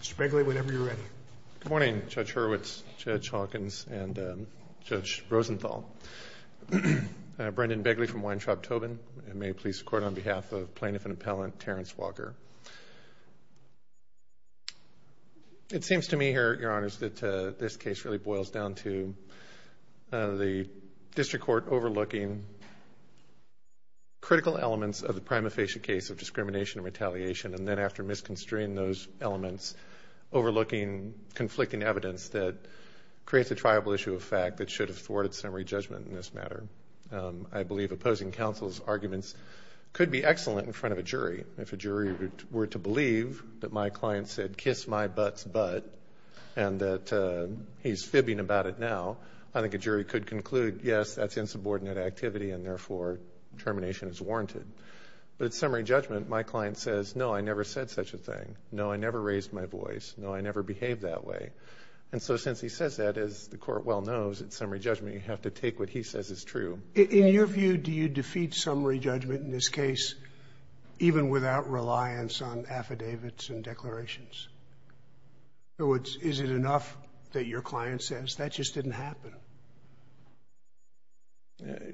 Mr. Begley, whenever you're ready. Good morning, Judge Hurwitz, Judge Hawkins, and Judge Rosenthal. Brendan Begley from Weintraub-Tobin, and may it please the Court, on behalf of Plaintiff and Appellant Terrance Walker. It seems to me, Your Honors, that this case really boils down to the District Court overlooking critical elements of the prima facie case of discrimination and retaliation, and then after misconstruing those elements, overlooking conflicting evidence that creates a triable issue of fact that should have thwarted summary judgment in this matter. I believe opposing counsel's arguments could be excellent in front of a jury. If a jury were to believe that my client said, kiss my butt's butt, and that he's fibbing about it now, I think a jury could conclude, yes, that's insubordinate activity, and therefore termination is warranted. But at summary judgment, my client says, no, I never said such a thing, no, I never raised my voice, no, I never behaved that way. And so since he says that, as the Court well knows, at summary judgment, you have to take what he says is true. In your view, do you defeat summary judgment in this case even without reliance on affidavits and declarations? In other words, is it enough that your client says, that just didn't happen?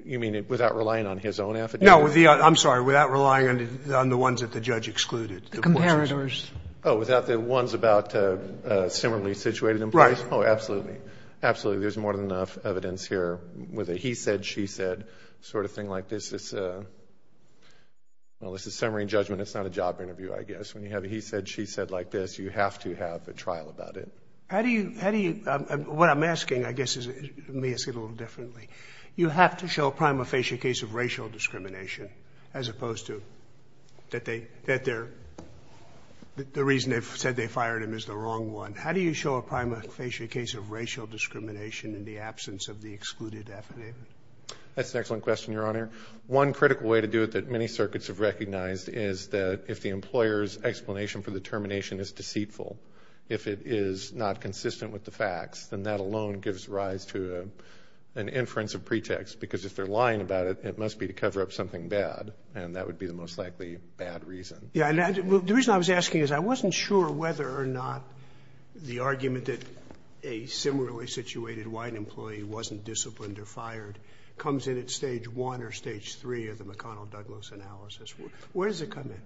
You mean without relying on his own affidavit? No, I'm sorry. Without relying on the ones that the judge excluded. The comparators. Oh, without the ones about similarly situated employees? Right. Oh, absolutely. Absolutely. There's more than enough evidence here. With a he said, she said sort of thing like this, it's a, well, this is summary judgment, it's not a job interview, I guess. When you have a he said, she said like this, you have to have a trial about it. How do you, what I'm asking, I guess, is, let me ask it a little differently. You have to show a prima facie case of racial discrimination as opposed to that they, that they're, the reason they've said they fired him is the wrong one. How do you show a prima facie case of racial discrimination in the absence of the excluded affidavit? That's an excellent question, your honor. One critical way to do it that many circuits have recognized is that if the employer's explanation for the termination is deceitful, if it is not consistent with the facts, then that alone gives rise to an inference of pretext. Because if they're lying about it, it must be to cover up something bad. And that would be the most likely bad reason. Yeah, and the reason I was asking is I wasn't sure whether or not the argument that a similarly situated white employee wasn't disciplined or fired comes in at stage one or stage three of the McConnell-Douglas analysis. Where does it come in?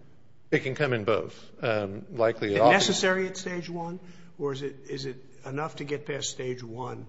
It can come in both. Likely at all. Is it necessary at stage one? Or is it enough to get past stage one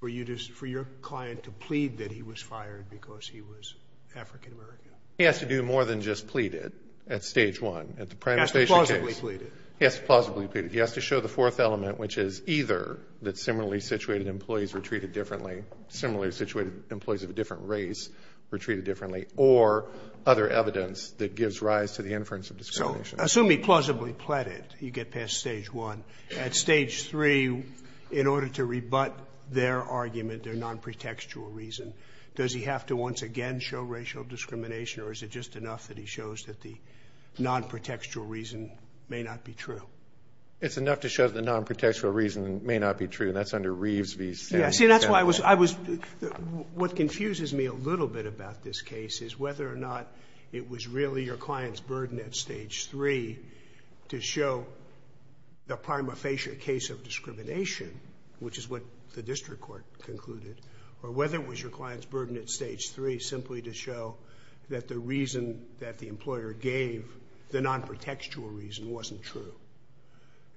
for your client to plead that he was fired because he was African-American? He has to do more than just plead it at stage one. At the prima facie case. He has to plausibly plead it. He has to plausibly plead it. He has to show the fourth element, which is either that similarly situated employees were treated differently, similarly situated employees of a different race were treated differently, or other evidence that gives rise to the inference of discrimination. Assume he plausibly plead it, you get past stage one. At stage three, in order to rebut their argument, their non-protextual reason, does he have to once again show racial discrimination or is it just enough that he shows that the non-protextual reason may not be true? It's enough to show that the non-protextual reason may not be true, and that's under Reeves v. Stanton. Yeah, see, that's why I was, I was, what confuses me a little bit about this case is whether or not it was really your client's burden at stage three to show the prima facie case of discrimination, which is what the district court concluded, or whether it was your client's burden at stage three simply to show that the reason that the employer gave, the non-protextual reason, wasn't true.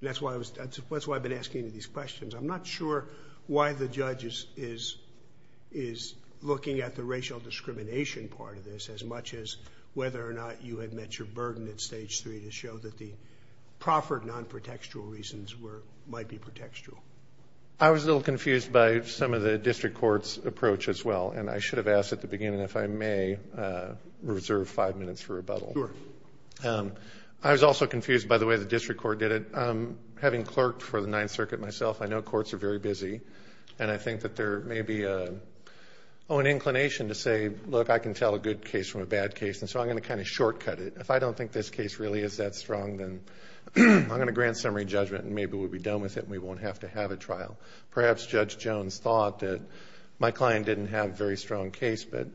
That's why I was, that's why I've been asking you these questions. I'm not sure why the judge is looking at the racial discrimination part of this as much as whether or not you had met your burden at stage three to show that the proffered non-protextual reasons were, might be protextual. I was a little confused by some of the district court's approach as well, and I should have asked at the beginning if I may reserve five minutes for rebuttal. I was also confused by the way the district court did it. Having clerked for the Ninth Circuit myself, I know courts are very busy, and I think that there may be an inclination to say, look, I can tell a good case from a bad case, and so I'm going to kind of shortcut it. If I don't think this case really is that strong, then I'm going to grant summary judgment and maybe we'll be done with it and we won't have to have a trial. Perhaps Judge Jones thought that my client didn't have a very strong case, but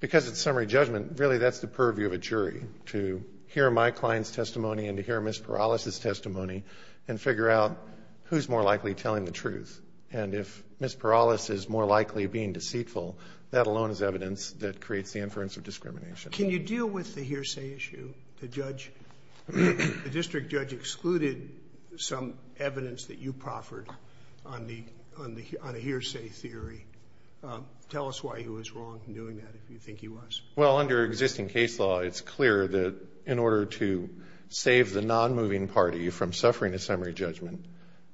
because it's summary judgment, really that's the purview of a jury, to hear my client's testimony and to hear Ms. Perales' testimony and figure out who's more likely telling the truth. And if Ms. Perales is more likely being deceitful, that alone is evidence that creates the inference of discrimination. Can you deal with the hearsay issue, the judge, the district judge excluded some evidence that you proffered on the hearsay theory? Tell us why he was wrong in doing that if you think he was. Well, under existing case law, it's clear that in order to save the non-moving party from suffering a summary judgment,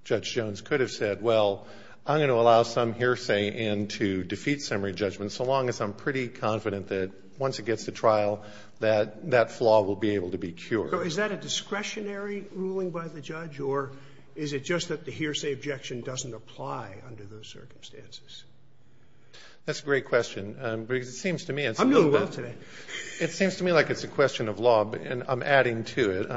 Judge Jones could have said, well, I'm going to allow some hearsay in to defeat summary judgment so long as I'm pretty confident that once it gets to trial, that flaw will be able to be cured. Is that a discretionary ruling by the judge or is it just that the hearsay objection doesn't apply under those circumstances? That's a great question. It seems to me it's a little bit... I'm doing well today. It seems to me like it's a question of law and I'm adding to it.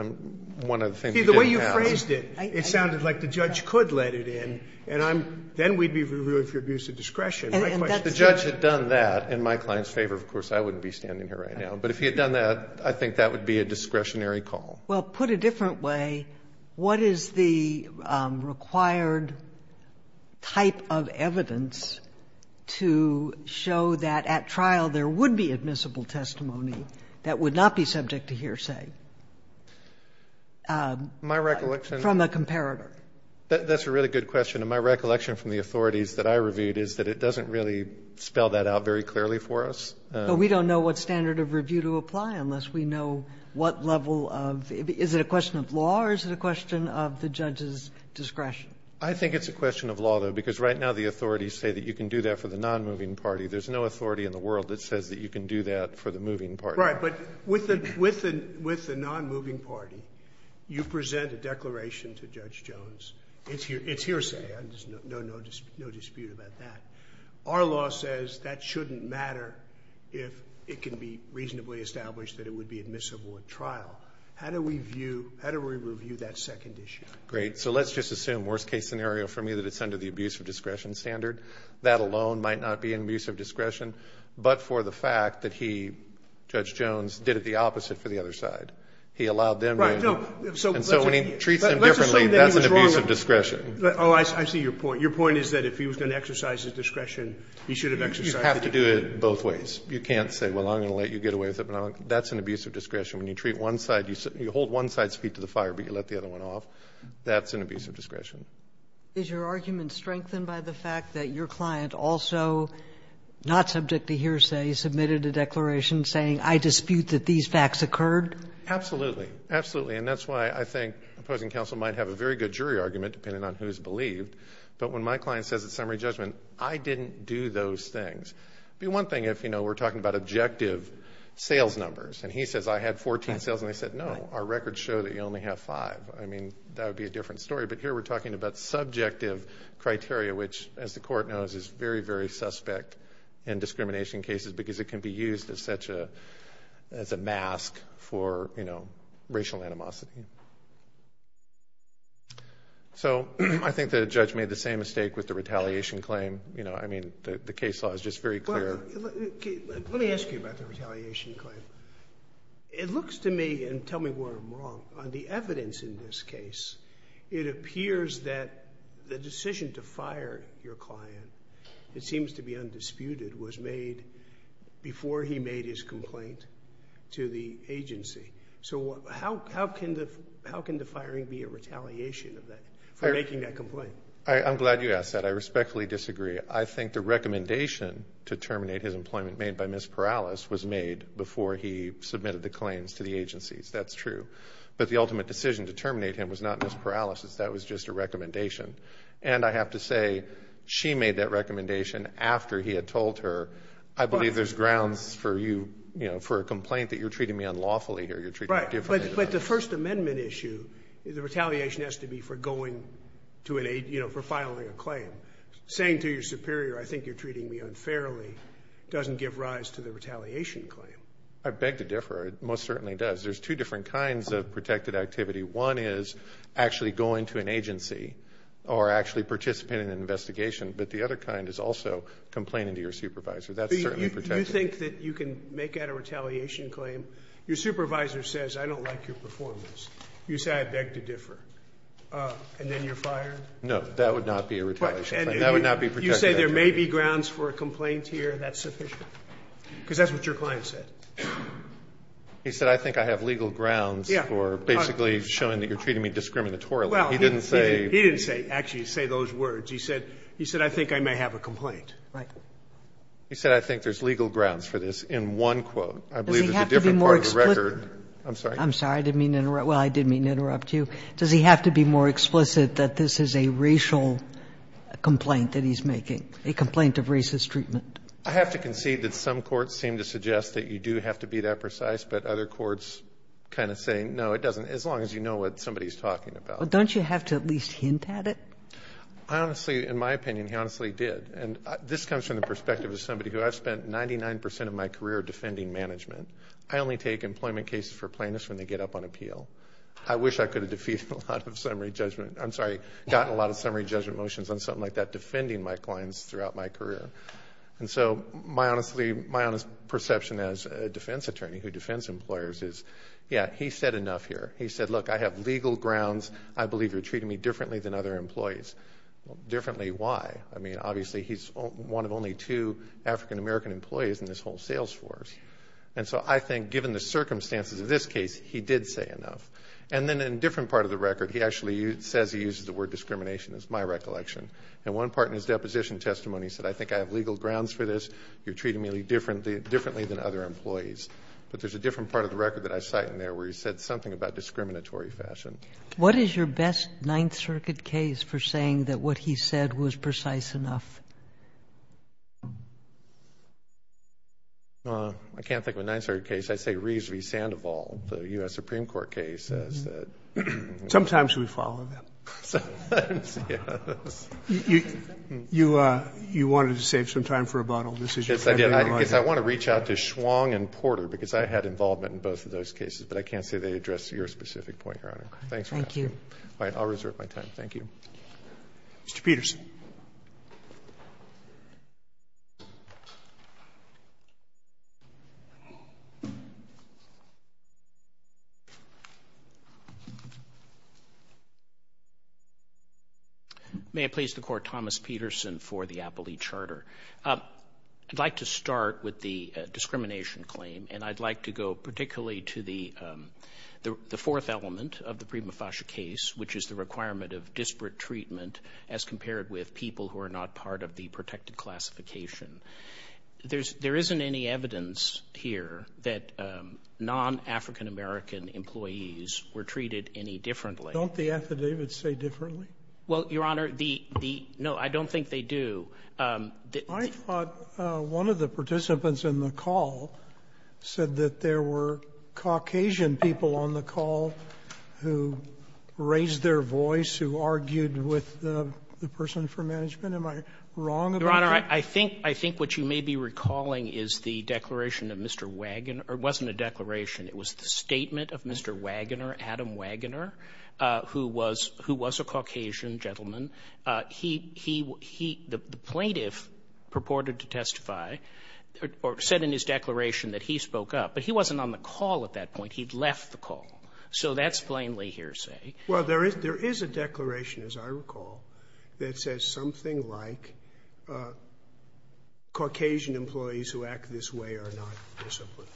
One of the things... See, the way you phrased it, it sounded like the judge could let it in and then we'd be reviewing for abuse of discretion. The judge had done that in my client's favor, of course, I wouldn't be standing here right now. But if he had done that, I think that would be a discretionary call. Well, put a different way, what is the required type of evidence to show that at trial there would be admissible testimony that would not be subject to hearsay from a comparator? That's a really good question. My recollection from the authorities that I reviewed is that it doesn't really spell that out very clearly for us. We don't know what standard of review to apply unless we know what level of... Is it a question of law or is it a question of the judge's discretion? I think it's a question of law, though, because right now the authorities say that you can do that for the non-moving party. There's no authority in the world that says that you can do that for the moving party. Right. But with the non-moving party, you present a declaration to Judge Jones, it's hearsay, there's no dispute about that. Our law says that shouldn't matter if it can be reasonably established that it would be admissible at trial. How do we review that second issue? Great. So let's just assume, worst case scenario for me, that it's under the abuse of discretion standard. That alone might not be an abuse of discretion, but for the fact that he, Judge Jones, did it the opposite for the other side. He allowed them to... And so when he treats them differently, that's an abuse of discretion. Let's assume that he was wrong. Oh, I see your point. Your point is that if he was going to exercise his discretion, he should have exercised his discretion. You have to do it both ways. You can't say, well, I'm going to let you get away with it. That's an abuse of discretion. When you treat one side, you hold one side's feet to the fire, but you let the other one off. That's an abuse of discretion. Is your argument strengthened by the fact that your client also, not subject to hearsay, submitted a declaration saying, I dispute that these facts occurred? Absolutely. Absolutely. And that's why I think opposing counsel might have a very good jury argument, depending on who's believed. But when my client says it's summary judgment, I didn't do those things. It'd be one thing if we're talking about objective sales numbers, and he says, I had 14 sales, and they said, no, our records show that you only have five. I mean, that would be a different story. But here we're talking about subjective criteria, which, as the court knows, is very, very suspect in discrimination cases, because it can be used as a mask for racial animosity. So, I think the judge made the same mistake with the retaliation claim. You know, I mean, the case law is just very clear. Let me ask you about the retaliation claim. It looks to me, and tell me where I'm wrong, on the evidence in this case, it appears that the decision to fire your client, it seems to be undisputed, was made before he made his complaint to the agency. So, how can the firing be a retaliation for making that complaint? I'm glad you asked that. I respectfully disagree. I think the recommendation to terminate his employment made by Ms. Perales was made before he submitted the claims to the agencies. That's true. But the ultimate decision to terminate him was not Ms. Perales's. That was just a recommendation. And I have to say, she made that recommendation after he had told her, I believe there's grounds for you, you know, for a complaint that you're treating me unlawfully here. You're treating me differently. Right. But the First Amendment issue, the retaliation has to be for going to an, you know, for filing a claim. Saying to your superior, I think you're treating me unfairly, doesn't give rise to the retaliation claim. I beg to differ. It most certainly does. There's two different kinds of protected activity. One is actually going to an agency, or actually participating in an investigation, but the other kind is also complaining to your supervisor. That's certainly protected. Do you think that you can make out a retaliation claim? Your supervisor says, I don't like your performance. You say, I beg to differ. And then you're fired? No. That would not be a retaliation claim. That would not be protected activity. But you say there may be grounds for a complaint here, that's sufficient? Because that's what your client said. He said, I think I have legal grounds for basically showing that you're treating me discriminatorily. Well, he didn't say. He didn't say. Actually, he didn't say those words. He said, he said, I think I may have a complaint. Right. He said, I think there's legal grounds for this, in one quote. I believe it's a different part of the record. Does he have to be more explicit? I'm sorry. I'm sorry. I didn't mean to interrupt. Well, I didn't mean to interrupt you. Does he have to be more explicit that this is a racial complaint that he's making, a complaint of racist treatment? I have to concede that some courts seem to suggest that you do have to be that precise, but other courts kind of say, no, it doesn't, as long as you know what somebody's talking about. But don't you have to at least hint at it? I honestly, in my opinion, he honestly did. And this comes from the perspective of somebody who I've spent 99% of my career defending management. I only take employment cases for plaintiffs when they get up on appeal. I wish I could have defeated a lot of summary judgment, I'm sorry, gotten a lot of summary judgment motions on something like that, defending my clients throughout my career. And so my honest perception as a defense attorney who defends employers is, yeah, he said enough here. He said, look, I have legal grounds. I believe you're treating me differently than other employees. Differently, why? I mean, obviously, he's one of only two African-American employees in this whole sales force. And so I think given the circumstances of this case, he did say enough. And then in a different part of the record, he actually says he uses the word discrimination as my recollection. And one part in his deposition testimony said, I think I have legal grounds for this. You're treating me differently than other employees. But there's a different part of the record that I cite in there where he said something about discriminatory fashion. What is your best Ninth Circuit case for saying that what he said was precise enough? I can't think of a Ninth Circuit case. I'd say Reeves v. Sandoval, the U.S. Supreme Court case. Sometimes we follow that. Sometimes, yes. You wanted to save some time for rebuttal. This is your second rebuttal. Yes, I did. I guess I want to reach out to Schwong and Porter, because I had involvement in both of those cases. But I can't say they addressed your specific point, Your Honor. Thank you. All right. I'll reserve my time. Thank you. Mr. Peterson. May it please the Court, Thomas Peterson for the Appley Charter. I'd like to start with the discrimination claim, and I'd like to go particularly to the fourth element of the Prima Fascia case, which is the requirement of disparate treatment as compared with people who are not part of the protected classification. There isn't any evidence here that non-African American employees were treated any differently. Don't the affidavits say differently? Well, Your Honor, the — no, I don't think they do. I thought one of the participants in the call said that there were Caucasian people on the call who raised their voice, who argued with the person for management. Am I wrong about that? Your Honor, I think what you may be recalling is the declaration of Mr. Wagoner — or it wasn't a declaration. It was the statement of Mr. Wagoner, Adam Wagoner, who was a Caucasian gentleman. He — he — the plaintiff purported to testify, or said in his declaration that he spoke up, but he wasn't on the call at that point. He'd left the call. So that's plainly hearsay. Well, there is a declaration, as I recall, that says something like Caucasian employees who act this way are not disciplined.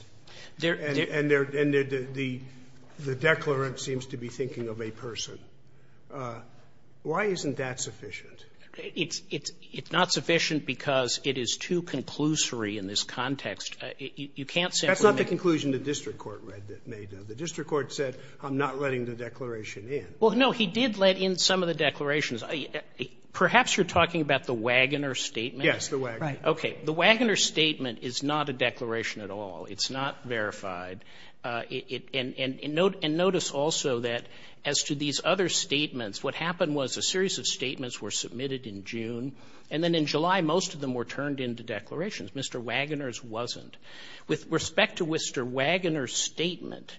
And there — and the declarant seems to be thinking of a person. Why isn't that sufficient? It's — it's not sufficient because it is too conclusory in this context. You can't simply make — That's not the conclusion the district court read — made, though. The district court said, I'm not letting the declaration in. Well, no, he did let in some of the declarations. Perhaps you're talking about the Wagoner statement? Yes, the Wagoner. Right. Okay. The Wagoner statement is not a declaration at all. It's not verified. And notice also that as to these other statements, what happened was a series of statements were submitted in June, and then in July most of them were turned into declarations. Mr. Wagoner's wasn't. With respect to Mr. Wagoner's statement,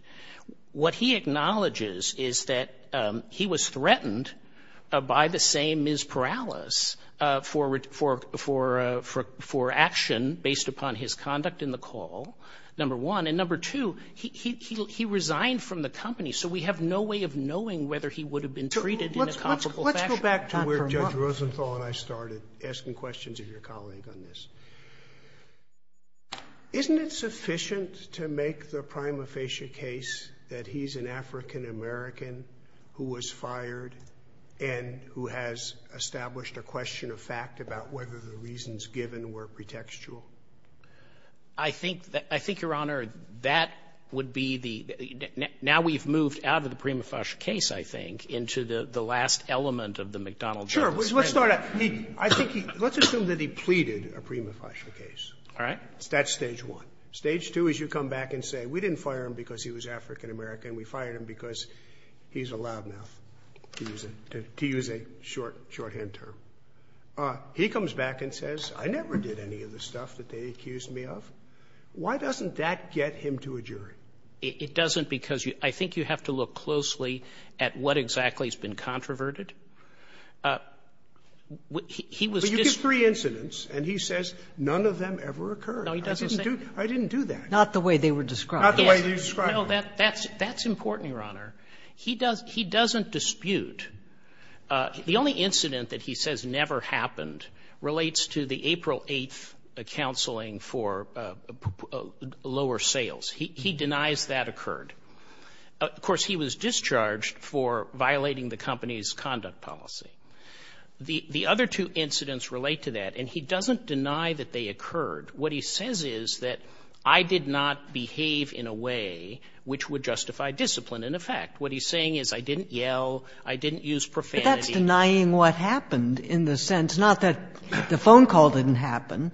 what he acknowledges is that he was threatened by the same Ms. Perales for — for — for action based upon his conduct in the call, number one. And number two, he — he — he resigned from the company. So we have no way of knowing whether he would have been treated in a comparable fashion. Let's — let's go back to where Judge Rosenthal and I started, asking questions of your colleague on this. Isn't it sufficient to make the prima facie case that he's an African-American who was fired and who has established a question of fact about whether the reasons given were pretextual? I think — I think, Your Honor, that would be the — now we've moved out of the prima facie case, I think, into the — the last element of the McDonnell-Jones case. Sure. Let's start at — I think he — let's assume that he pleaded a prima facie case. All right. That's stage one. Stage two is you come back and say, we didn't fire him because he was African-American, we fired him because he's a loudmouth, to use a — to use a short — shorthand term. He comes back and says, I never did any of the stuff that they accused me of. Why doesn't that get him to a jury? It doesn't because you — I think you have to look closely at what exactly has been controverted. He was just — But you give three incidents, and he says none of them ever occurred. No, he doesn't say — I didn't do — I didn't do that. Not the way they were described. Not the way they were described. No, that — that's — that's important, Your Honor. He doesn't — he doesn't dispute. The only incident that he says never happened relates to the April 8th counseling for lower sales. He denies that occurred. Of course, he was discharged for violating the company's conduct policy. The other two incidents relate to that, and he doesn't deny that they occurred. What he says is that I did not behave in a way which would justify discipline, in effect. What he's saying is I didn't yell, I didn't use profanity. But that's denying what happened in the sense — not that the phone call didn't happen,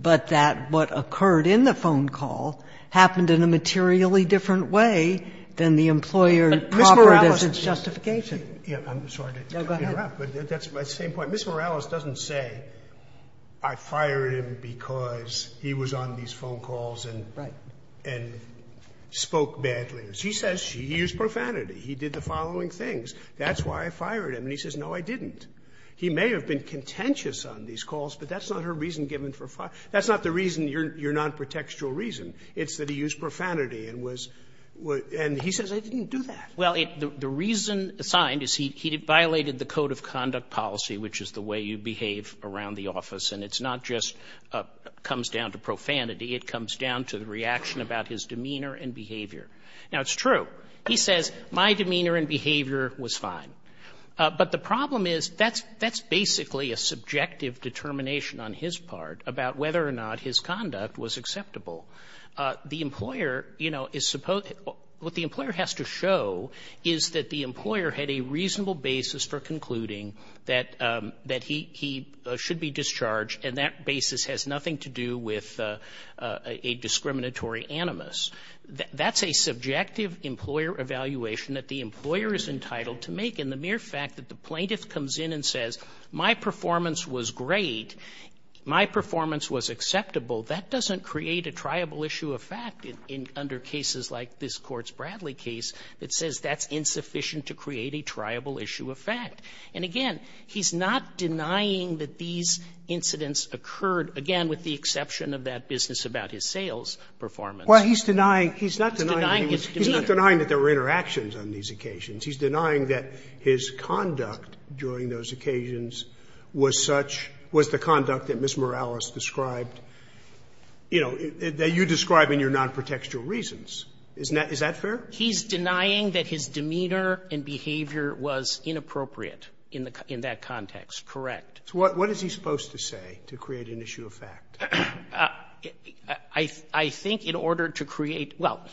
but that what occurred in the phone call happened in a materially different way than the employer proffered as its justification. But Ms. Morales — I'm sorry to interrupt, but that's my same point. Ms. Morales doesn't say I fired him because he was on these phone calls and — Right. — and spoke badly. He says he used profanity, he did the following things, that's why I fired him. And he says, no, I didn't. He may have been contentious on these calls, but that's not her reason given for — that's not the reason your nonprotextual reason. It's that he used profanity and was — and he says I didn't do that. Well, the reason assigned is he violated the code of conduct policy, which is the way you behave around the office. And it's not just comes down to profanity, it comes down to the reaction about his demeanor and behavior. Now, it's true. He says my demeanor and behavior was fine. But the problem is that's basically a subjective determination on his part about whether or not his conduct was acceptable. The employer, you know, is supposed — what the employer has to show is that the employer had a reasonable basis for concluding that he should be discharged, and that basis has nothing to do with a discriminatory animus. That's a subjective employer evaluation that the employer is entitled to make. And the mere fact that the plaintiff comes in and says my performance was great, my performance was acceptable, that doesn't create a triable issue of fact under cases like this Courts Bradley case that says that's insufficient to create a triable issue of fact. And again, he's not denying that these incidents occurred, again, with the exception of that business about his sales performance. Well, he's denying — he's not denying that there were interactions on these occasions. He's denying that his conduct during those occasions was such — was the conduct that Ms. Morales described, you know, that you describe in your nonprotextual reasons. Isn't that — is that fair? He's denying that his demeanor and behavior was inappropriate in that context. Correct. So what is he supposed to say to create an issue of fact? I think in order to create — well,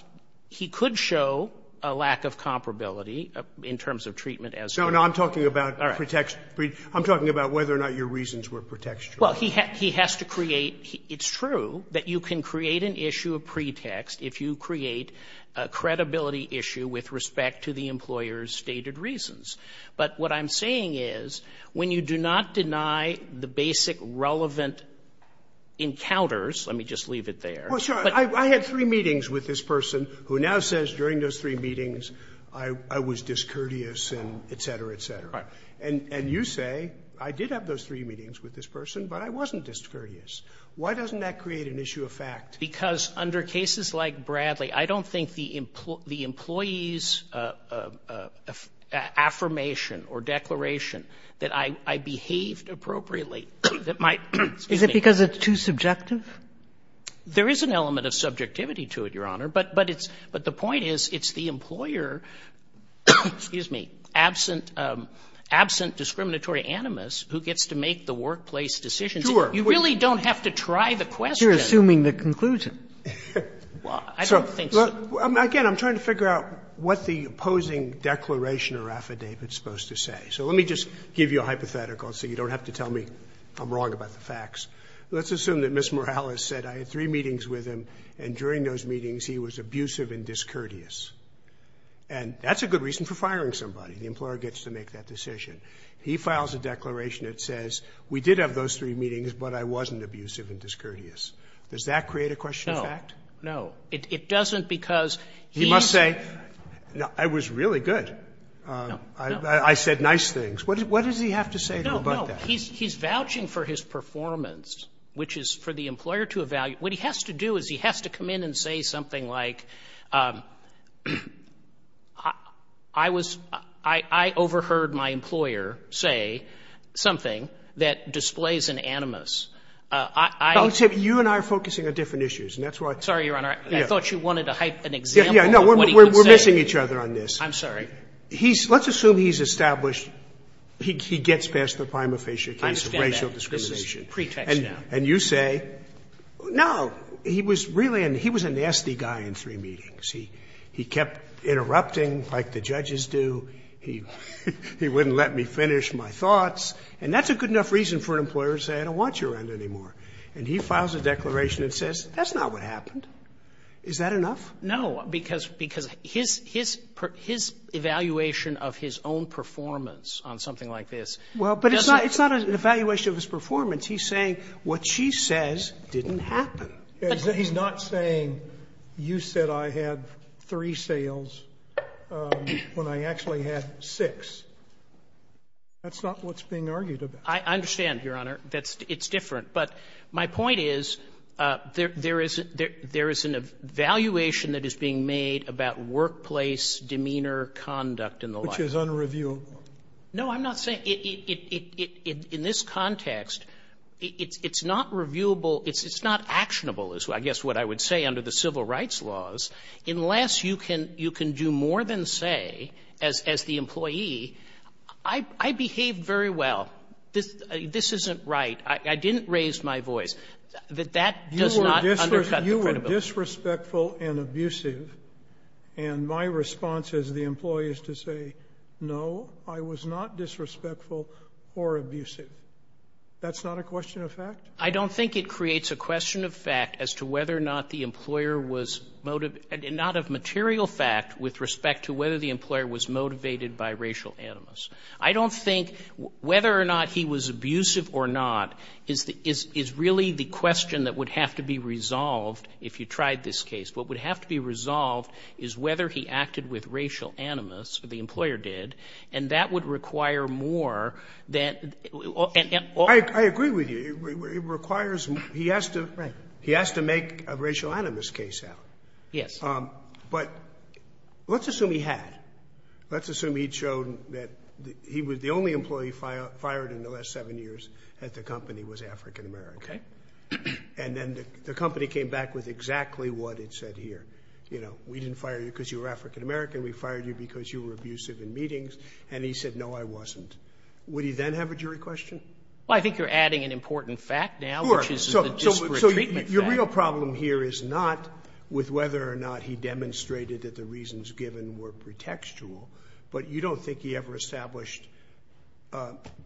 he could show a lack of comparability in terms of treatment as to — No, no, I'm talking about pretext — I'm talking about whether or not your reasons were pretextual. Well, he has to create — it's true that you can create an issue of pretext if you create a credibility issue with respect to the employer's stated reasons. But what I'm saying is when you do not deny the basic relevant encounters — let me just leave it there. Well, sure. I had three meetings with this person who now says during those three meetings I was discourteous and et cetera, et cetera. Right. And you say, I did have those three meetings with this person, but I wasn't discourteous. Why doesn't that create an issue of fact? Because under cases like Bradley, I don't think the employee's affirmation of the employee's affirmation or declaration that I behaved appropriately, that my — Is it because it's too subjective? There is an element of subjectivity to it, Your Honor, but the point is it's the employer — excuse me — absent discriminatory animus who gets to make the workplace decisions. Sure. You really don't have to try the question. You're assuming the conclusion. Well, I don't think so. Again, I'm trying to figure out what the opposing declaration or affidavit is supposed to say. So let me just give you a hypothetical so you don't have to tell me I'm wrong about the facts. Let's assume that Ms. Morales said I had three meetings with him and during those meetings he was abusive and discourteous. And that's a good reason for firing somebody. The employer gets to make that decision. He files a declaration that says we did have those three meetings, but I wasn't abusive and discourteous. Does that create a question of fact? No. No. It doesn't because he's — He must say, no, I was really good. No, no. I said nice things. What does he have to say about that? No, no. He's vouching for his performance, which is for the employer to evaluate. What he has to do is he has to come in and say something like, I was — I overheard my employer say something that displays an animus. I — I would say you and I are focusing on different issues, and that's why — I'm sorry, Your Honor, I thought you wanted to hype an example of what he could say. Yeah, no, we're missing each other on this. I'm sorry. He's — let's assume he's established — he gets past the prima facie case of racial discrimination. I understand that. It's a pretext now. And you say, no, he was really — he was a nasty guy in three meetings. He kept interrupting like the judges do. He wouldn't let me finish my thoughts. And that's a good enough reason for an employer to say I don't want your end anymore. And he files a declaration and says, that's not what happened. Is that enough? No, because — because his — his evaluation of his own performance on something like this doesn't — Well, but it's not an evaluation of his performance. He's saying what she says didn't happen. He's not saying you said I had three sales when I actually had six. That's not what's being argued about. I understand, Your Honor. That's — it's different. But my point is, there is — there is an evaluation that is being made about workplace demeanor, conduct and the like. Which is unreviewable. No, I'm not saying — in this context, it's not reviewable — it's not actionable, is I guess what I would say under the civil rights laws, unless you can — you can do more than say, as the employee, I behaved very well. This — this isn't right. I didn't raise my voice. That that does not undercut the credibility. You were disrespectful and abusive, and my response as the employee is to say, no, I was not disrespectful or abusive. That's not a question of fact? I don't think it creates a question of fact as to whether or not the employer was — not of material fact with respect to whether the employer was motivated by racial animus. I don't think whether or not he was abusive or not is the — is really the question that would have to be resolved if you tried this case. What would have to be resolved is whether he acted with racial animus, or the employer did, and that would require more than — Sotomayor, I agree with you. It requires — he has to — he has to make a racial animus case out. Yes. But let's assume he had. Let's assume he'd shown that he was — the only employee fired in the last seven years at the company was African-American. Okay. And then the company came back with exactly what it said here. You know, we didn't fire you because you were African-American. We fired you because you were abusive in meetings. And he said, no, I wasn't. Would he then have a jury question? Well, I think you're adding an important fact now, which is the disparate treatment fact. So your real problem here is not with whether or not he demonstrated that the reasons given were pretextual, but you don't think he ever established,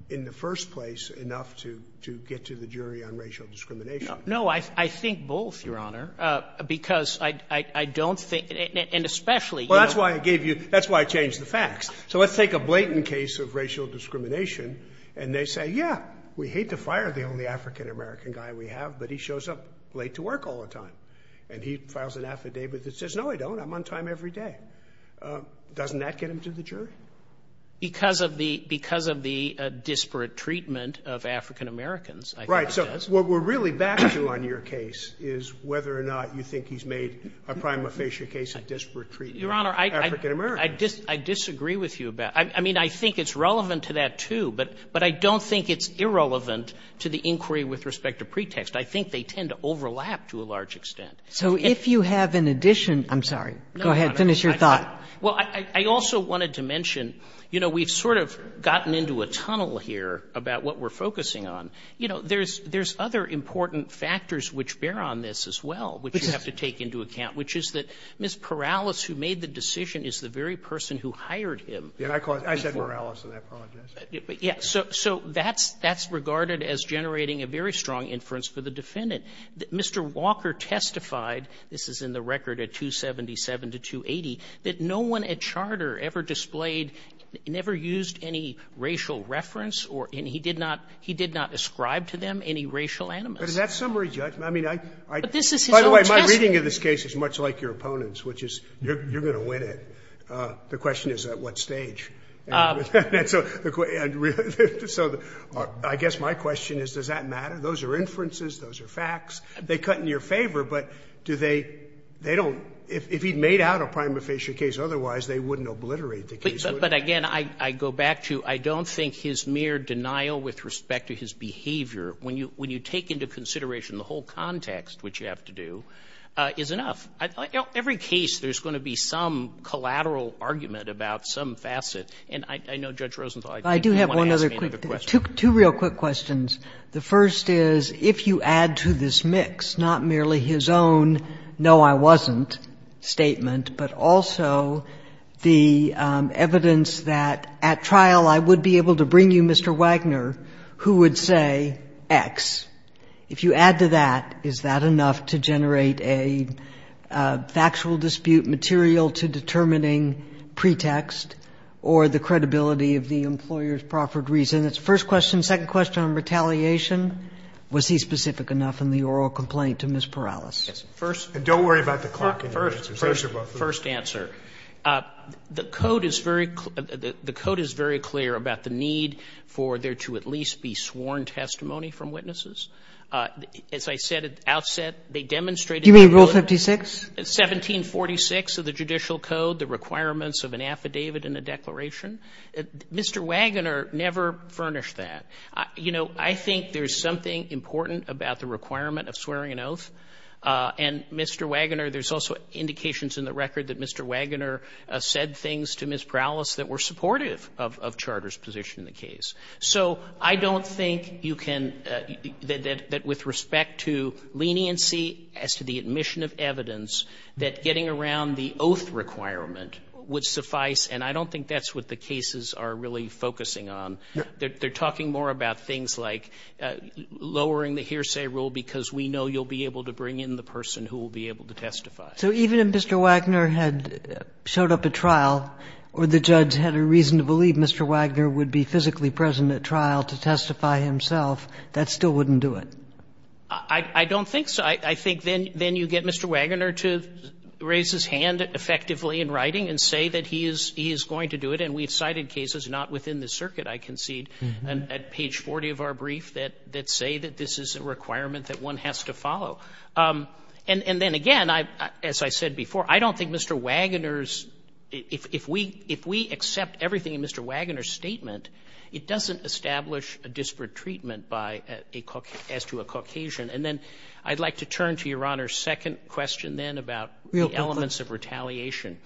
in the first place, enough to get to the jury on racial discrimination. No, I think both, Your Honor, because I don't think — and especially — Well, that's why I gave you — that's why I changed the facts. So let's take a Blayton case of racial discrimination, and they say, yeah, we hate to fire the only African-American guy we have, but he shows up late to work all the time. And he files an affidavit that says, no, I don't. I'm on time every day. Doesn't that get him to the jury? Because of the — because of the disparate treatment of African-Americans, I think it does. Right. So what we're really back to on your case is whether or not you think he's made a prima facie case of disparate treatment of African-Americans. Your Honor, I disagree with you about — I mean, I think it's relevant to that, too. But I don't think it's irrelevant to the inquiry with respect to pretext. I think they tend to overlap to a large extent. So if you have an addition — I'm sorry. Go ahead. Finish your thought. Well, I also wanted to mention, you know, we've sort of gotten into a tunnel here about what we're focusing on. You know, there's other important factors which bear on this as well, which you have to take into account, which is that Ms. Perales, who made the decision, is the very person who hired him. Yeah, I called — I said Perales, and I apologize. But, yeah, so that's regarded as generating a very strong inference for the defendant. Mr. Walker testified — this is in the record at 277 to 280 — that no one at Charter ever displayed — never used any racial reference or any — he did not — he did not ascribe to them any racial animus. But is that summary judgment? I mean, I — But this is his own testimony. By the way, my reading of this case is much like your opponent's, which is you're going to win it. The question is at what stage. And so the — so I guess my question is, does that matter? Those are inferences, those are facts. They cut in your favor, but do they — they don't — if he'd made out a prima facie case otherwise, they wouldn't obliterate the case, would they? But, again, I go back to I don't think his mere denial with respect to his behavior, when you take into consideration the whole context, which you have to do, is enough. Every case, there's going to be some collateral argument about some facet. And I know, Judge Rosenthal, I think you want to ask me another question. Two real quick questions. The first is, if you add to this mix not merely his own no, I wasn't statement, but also the evidence that at trial I would be able to bring you Mr. Wagner, who would say X, if you add to that, is that enough to generate a factual dispute material to determining pretext or the credibility of the employer's proffered reason? First question. Second question on retaliation, was he specific enough in the oral complaint to Ms. Perales? First — And don't worry about the clock in your answers. First answer. The Code is very clear about the need for there to at least be sworn testimony from witnesses. As I said at the outset, they demonstrated — You mean Rule 56? 1746 of the Judicial Code, the requirements of an affidavit and a declaration. Mr. Wagner never furnished that. You know, I think there's something important about the requirement of swearing an oath. And Mr. Wagner, there's also indications in the record that Mr. Wagner said things to Ms. Perales that were supportive of Charter's position in the case. So I don't think you can — that with respect to leniency as to the admission of evidence, that getting around the oath requirement would suffice, and I don't think that's what the cases are really focusing on. They're talking more about things like lowering the hearsay rule because we know you'll be able to bring in the person who will be able to testify. So even if Mr. Wagner had showed up at trial or the judge had a reason to believe Mr. Wagner would be physically present at trial to testify himself, that still wouldn't do it? I don't think so. I think then you get Mr. Wagner to raise his hand effectively in writing and say that he is going to do it. And we've cited cases, not within the circuit, I concede, at page 40 of our brief that say that this is a requirement that one has to follow. And then again, as I said before, I don't think Mr. Wagner's — if we accept everything in Mr. Wagner's statement, it doesn't establish a disparate treatment by a — as to a Caucasian. And then I'd like to turn to Your Honor's second question then about the elements of retaliation.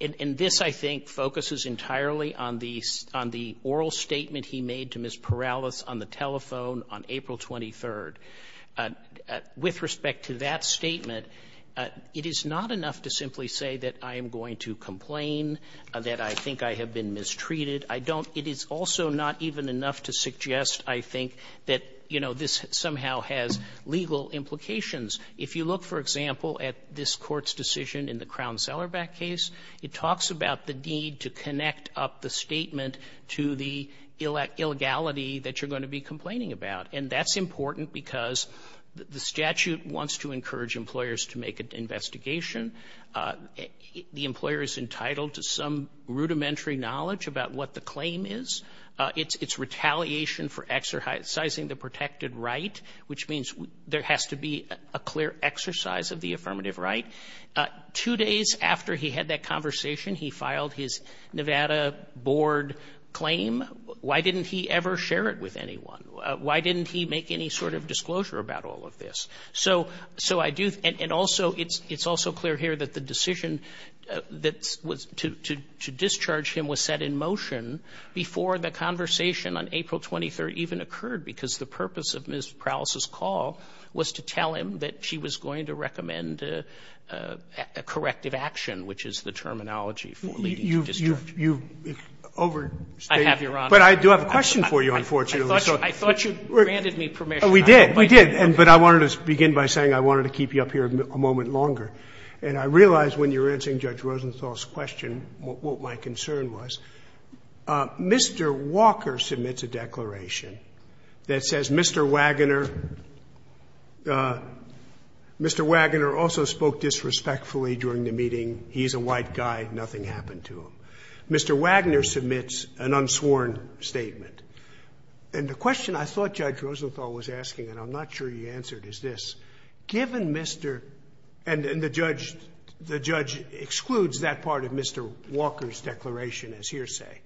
And this, I think, focuses entirely on the — on the oral statement he made to Ms. Perales on the telephone on April 23rd. With respect to that statement, it is not enough to simply say that I am going to complain, that I think I have been mistreated. I don't — it is also not even enough to suggest, I think, that, you know, this somehow has legal implications. If you look, for example, at this Court's decision in the Crown-Sellerback case, it talks about the need to connect up the statement to the illegality that you're going to be complaining about. And that's important because the statute wants to encourage employers to make an investigation. The employer is entitled to some rudimentary knowledge about what the claim is. It's retaliation for exercising the protected right, which means there has to be a clear exercise of the affirmative right. Two days after he had that conversation, he filed his Nevada board claim. Why didn't he ever share it with anyone? Why didn't he make any sort of disclosure about all of this? So I do — and also, it's also clear here that the decision that was to discharge him was set in motion before the conversation on April 23rd even occurred, because the purpose of Ms. Prowlis' call was to tell him that she was going to recommend a corrective action, which is the terminology for leading to discharge. Sotomayor, you've overstated. I have, Your Honor. But I do have a question for you, unfortunately. I thought you granted me permission. We did. We did. But I wanted to begin by saying I wanted to keep you up here a moment longer. And I realize when you were answering Judge Rosenthal's question what my concern was. Mr. Walker submits a declaration that says Mr. Waggoner also spoke disrespectfully during the meeting. He's a white guy. Nothing happened to him. Mr. Waggoner submits an unsworn statement. And the question I thought Judge Rosenthal was asking, and I'm not sure he answered, is this. Given Mr. — and the judge excludes that part of Mr. Walker's declaration, his hearsay,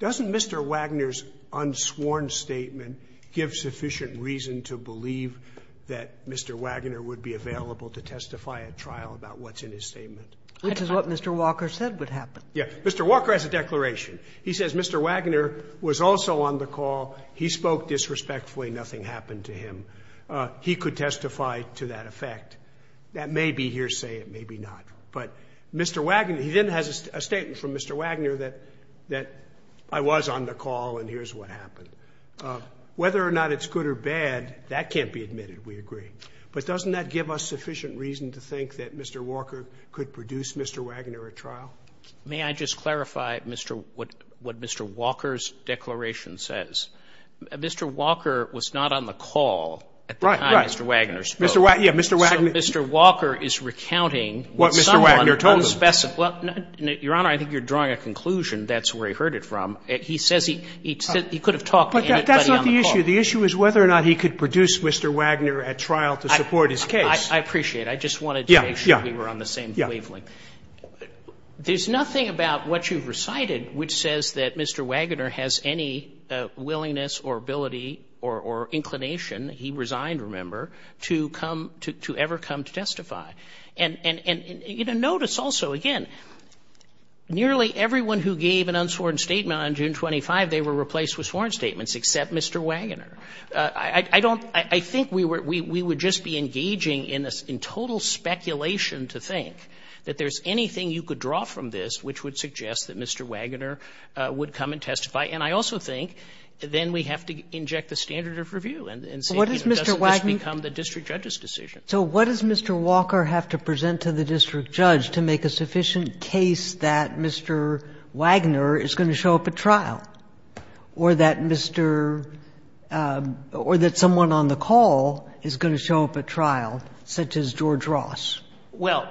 doesn't Mr. Waggoner's unsworn statement give sufficient reason to believe that Mr. Waggoner would be available to testify at trial about what's in his statement? Which is what Mr. Walker said would happen. Yeah. Mr. Walker has a declaration. He says Mr. Waggoner was also on the call. He spoke disrespectfully. Nothing happened to him. He could testify to that effect. That may be hearsay. It may be not. But Mr. Waggoner — he then has a statement from Mr. Waggoner that I was on the call and here's what happened. Whether or not it's good or bad, that can't be admitted. We agree. But doesn't that give us sufficient reason to think that Mr. Walker could produce Mr. Waggoner at trial? May I just clarify what Mr. Walker's declaration says? Mr. Walker was not on the call at the time Mr. Waggoner spoke. Right, right. Yeah, Mr. Waggoner — Well, Your Honor, I think you're drawing a conclusion. That's where he heard it from. He says he could have talked to anybody on the call. But that's not the issue. The issue is whether or not he could produce Mr. Waggoner at trial to support his case. I appreciate it. I just wanted to make sure we were on the same wavelength. There's nothing about what you've recited which says that Mr. Waggoner has any And notice also, again, nearly everyone who gave an unsworn statement on June 25, they were replaced with sworn statements except Mr. Waggoner. I think we would just be engaging in total speculation to think that there's anything you could draw from this which would suggest that Mr. Waggoner would come and testify. And I also think then we have to inject the standard of review and say, does this become the district judge's decision? So what does Mr. Walker have to present to the district judge to make a sufficient case that Mr. Waggoner is going to show up at trial? Or that Mr. — or that someone on the call is going to show up at trial, such as George Ross? Well,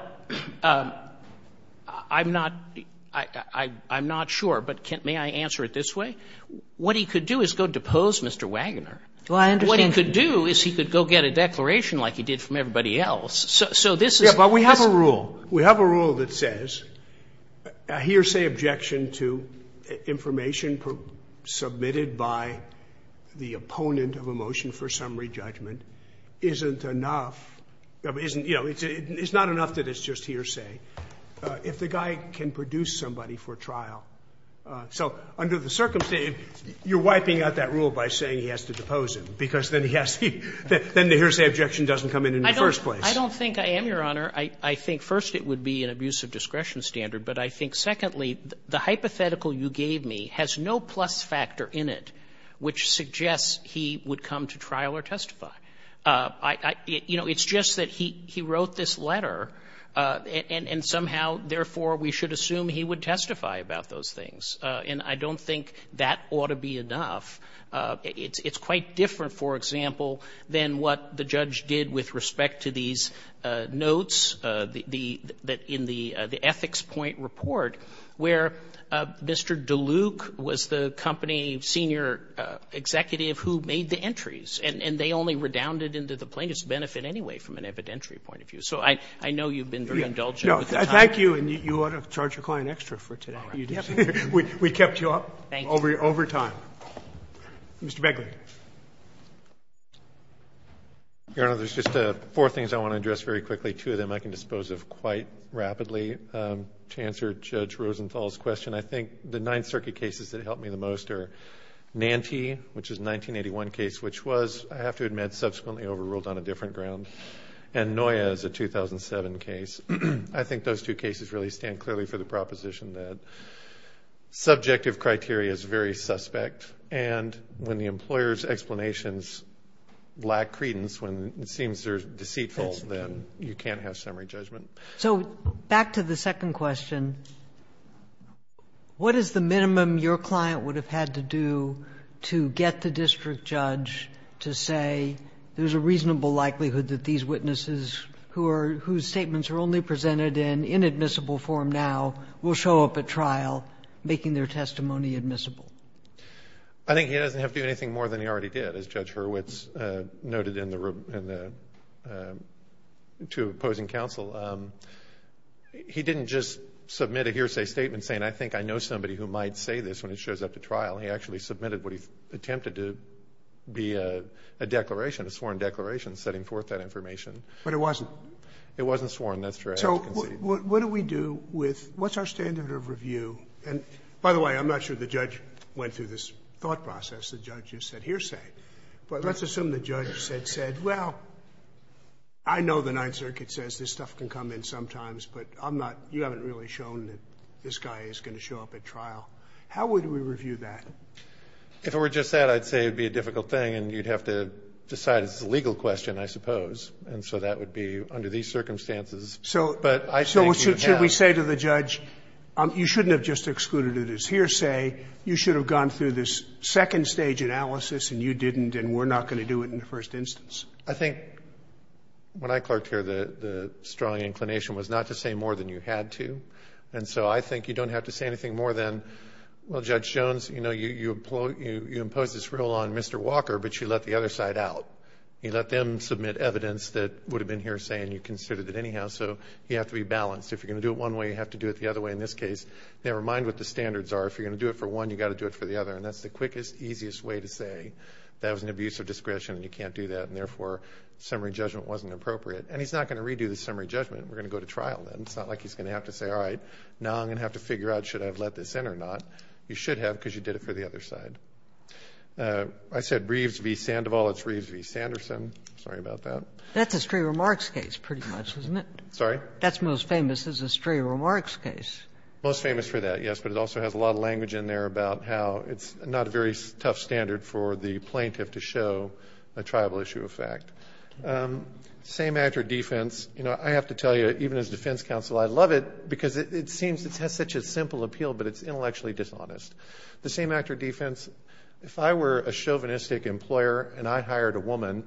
I'm not — I'm not sure. But may I answer it this way? What he could do is go depose Mr. Waggoner. Do I understand — What he could do is he could go get a declaration like he did from everybody else. So this is — Yeah, but we have a rule. We have a rule that says a hearsay objection to information submitted by the opponent of a motion for summary judgment isn't enough — isn't — you know, it's not enough that it's just hearsay if the guy can produce somebody for trial. So under the circumstance, you're wiping out that rule by saying he has to depose him, because then he has to — then the hearsay objection doesn't come in in the first place. I don't think I am, Your Honor. I think, first, it would be an abuse of discretion standard. But I think, secondly, the hypothetical you gave me has no plus factor in it which suggests he would come to trial or testify. I — you know, it's just that he wrote this letter, and somehow, therefore, we should assume he would testify about those things. And I don't think that ought to be enough. It's quite different, for example, than what the judge did with respect to these notes, the — in the ethics point report, where Mr. DeLuke was the company senior executive who made the entries. And they only redounded into the plaintiff's benefit anyway, from an evidentiary point of view. So I know you've been very indulgent with the time. No. Thank you. And you ought to charge your client extra for today. You just — we kept you up over time. Mr. Begley. Your Honor, there's just four things I want to address very quickly. Two of them I can dispose of quite rapidly. To answer Judge Rosenthal's question, I think the Ninth Circuit cases that helped me the most are Nante, which is a 1981 case, which was, I have to admit, subsequently overruled on a different ground, and Noya is a 2007 case. I think those two cases really stand clearly for the proposition that subjective criteria is very suspect. And when the employer's explanations lack credence, when it seems they're deceitful, then you can't have summary judgment. So back to the second question, what is the minimum your client would have had to do to get the district judge to say there's a reasonable likelihood that these witnesses whose statements are only presented in inadmissible form now will show up at trial, making their testimony admissible? I think he doesn't have to do anything more than he already did, as Judge Hurwitz noted in the — to opposing counsel. He didn't just submit a hearsay statement saying, I think I know somebody who might say this when he shows up to trial. He actually submitted what he attempted to be a declaration, a sworn declaration, setting forth that information. But it wasn't? It wasn't sworn. That's true. So what do we do with — what's our standard of review? And by the way, I'm not sure the judge went through this thought process. The judge just said hearsay. But let's assume the judge said, well, I know the Ninth Circuit says this stuff can come in sometimes, but I'm not — you haven't really shown that this guy is going to show up at trial. How would we review that? If it were just that, I'd say it would be a difficult thing, and you'd have to decide it's a legal question, I suppose. And so that would be under these circumstances. So should we say to the judge, you shouldn't have just excluded it as hearsay, you should have gone through this second stage analysis, and you didn't, and we're not going to do it in the first instance? I think when I clerked here, the strong inclination was not to say more than you had to. And so I think you don't have to say anything more than, well, Judge Jones, you know, you impose this rule on Mr. Walker, but you let the other side out. You let them submit evidence that would have been hearsay and you considered it anyhow, so you have to be balanced. If you're going to do it one way, you have to do it the other way. In this case, never mind what the standards are. If you're going to do it for one, you've got to do it for the other, and that's the quickest, easiest way to say that was an abuse of discretion and you can't do that, and therefore summary judgment wasn't appropriate. And he's not going to redo the summary judgment. We're going to go to trial then. It's not like he's going to have to say, all right, now I'm going to have to figure out should I have let this in or not. You should have because you did it for the other side. I said Reeves v. Sandoval. It's Reeves v. Sanderson. Sorry about that. That's a stray remarks case pretty much, isn't it? Sorry? That's most famous as a stray remarks case. Most famous for that, yes, but it also has a lot of language in there about how it's not a very tough standard for the plaintiff to show a tribal issue of fact. Same actor defense. You know, I have to tell you, even as defense counsel, I love it because it seems it has such a simple appeal, but it's intellectually dishonest. The same actor defense, if I were a chauvinistic employer and I hired a woman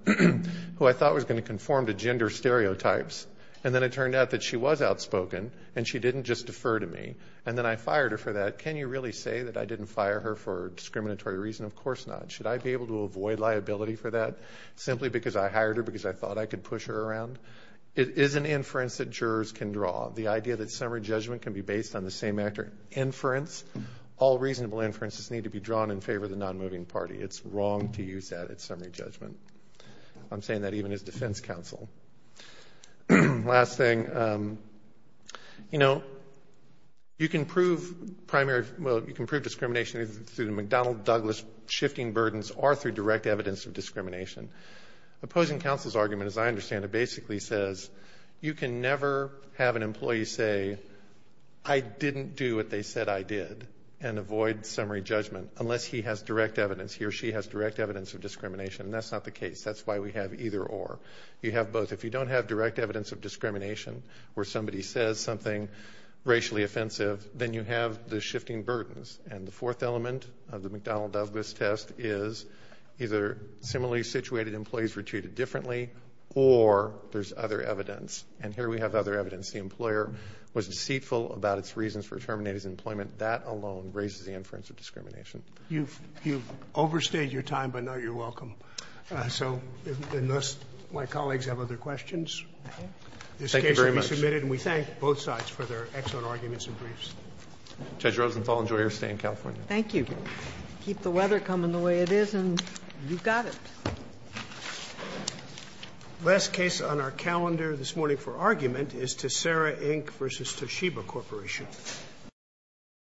who I thought was going to conform to gender stereotypes and then it turned out that she was outspoken and she didn't just defer to me and then I fired her for that, can you really say that I didn't fire her for discriminatory reason? Of course not. Should I be able to avoid liability for that simply because I hired her because I thought I could push her around? It is an inference that jurors can draw. The idea that summary judgment can be based on the same actor inference, all reasonable inferences need to be drawn in favor of the non-moving party. It's wrong to use that at summary judgment. I'm saying that even as defense counsel. Last thing. You know, you can prove discrimination through the McDonnell-Douglas shifting burdens or through direct evidence of discrimination. Opposing counsel's argument, as I understand it, basically says you can never have an employee say, I didn't do what they said I did and avoid summary judgment unless he has direct evidence, he or she has direct evidence of discrimination. That's not the case. That's why we have either or. You have both. If you don't have direct evidence of discrimination where somebody says something racially offensive, then you have the shifting burdens. And the fourth element of the McDonnell-Douglas test is either similarly situated employees were treated differently or there's other evidence. And here we have other evidence. The employer was deceitful about its reasons for terminating his employment. That alone raises the inference of discrimination. You've overstayed your time, but now you're welcome. So unless my colleagues have other questions, this case will be submitted. And we thank both sides for their excellent arguments and briefs. Judge Rosenthal, enjoy your stay in California. Thank you. Keep the weather coming the way it is, and you've got it. Last case on our calendar this morning for argument is Tessera, Inc. v. Toshiba Corporation.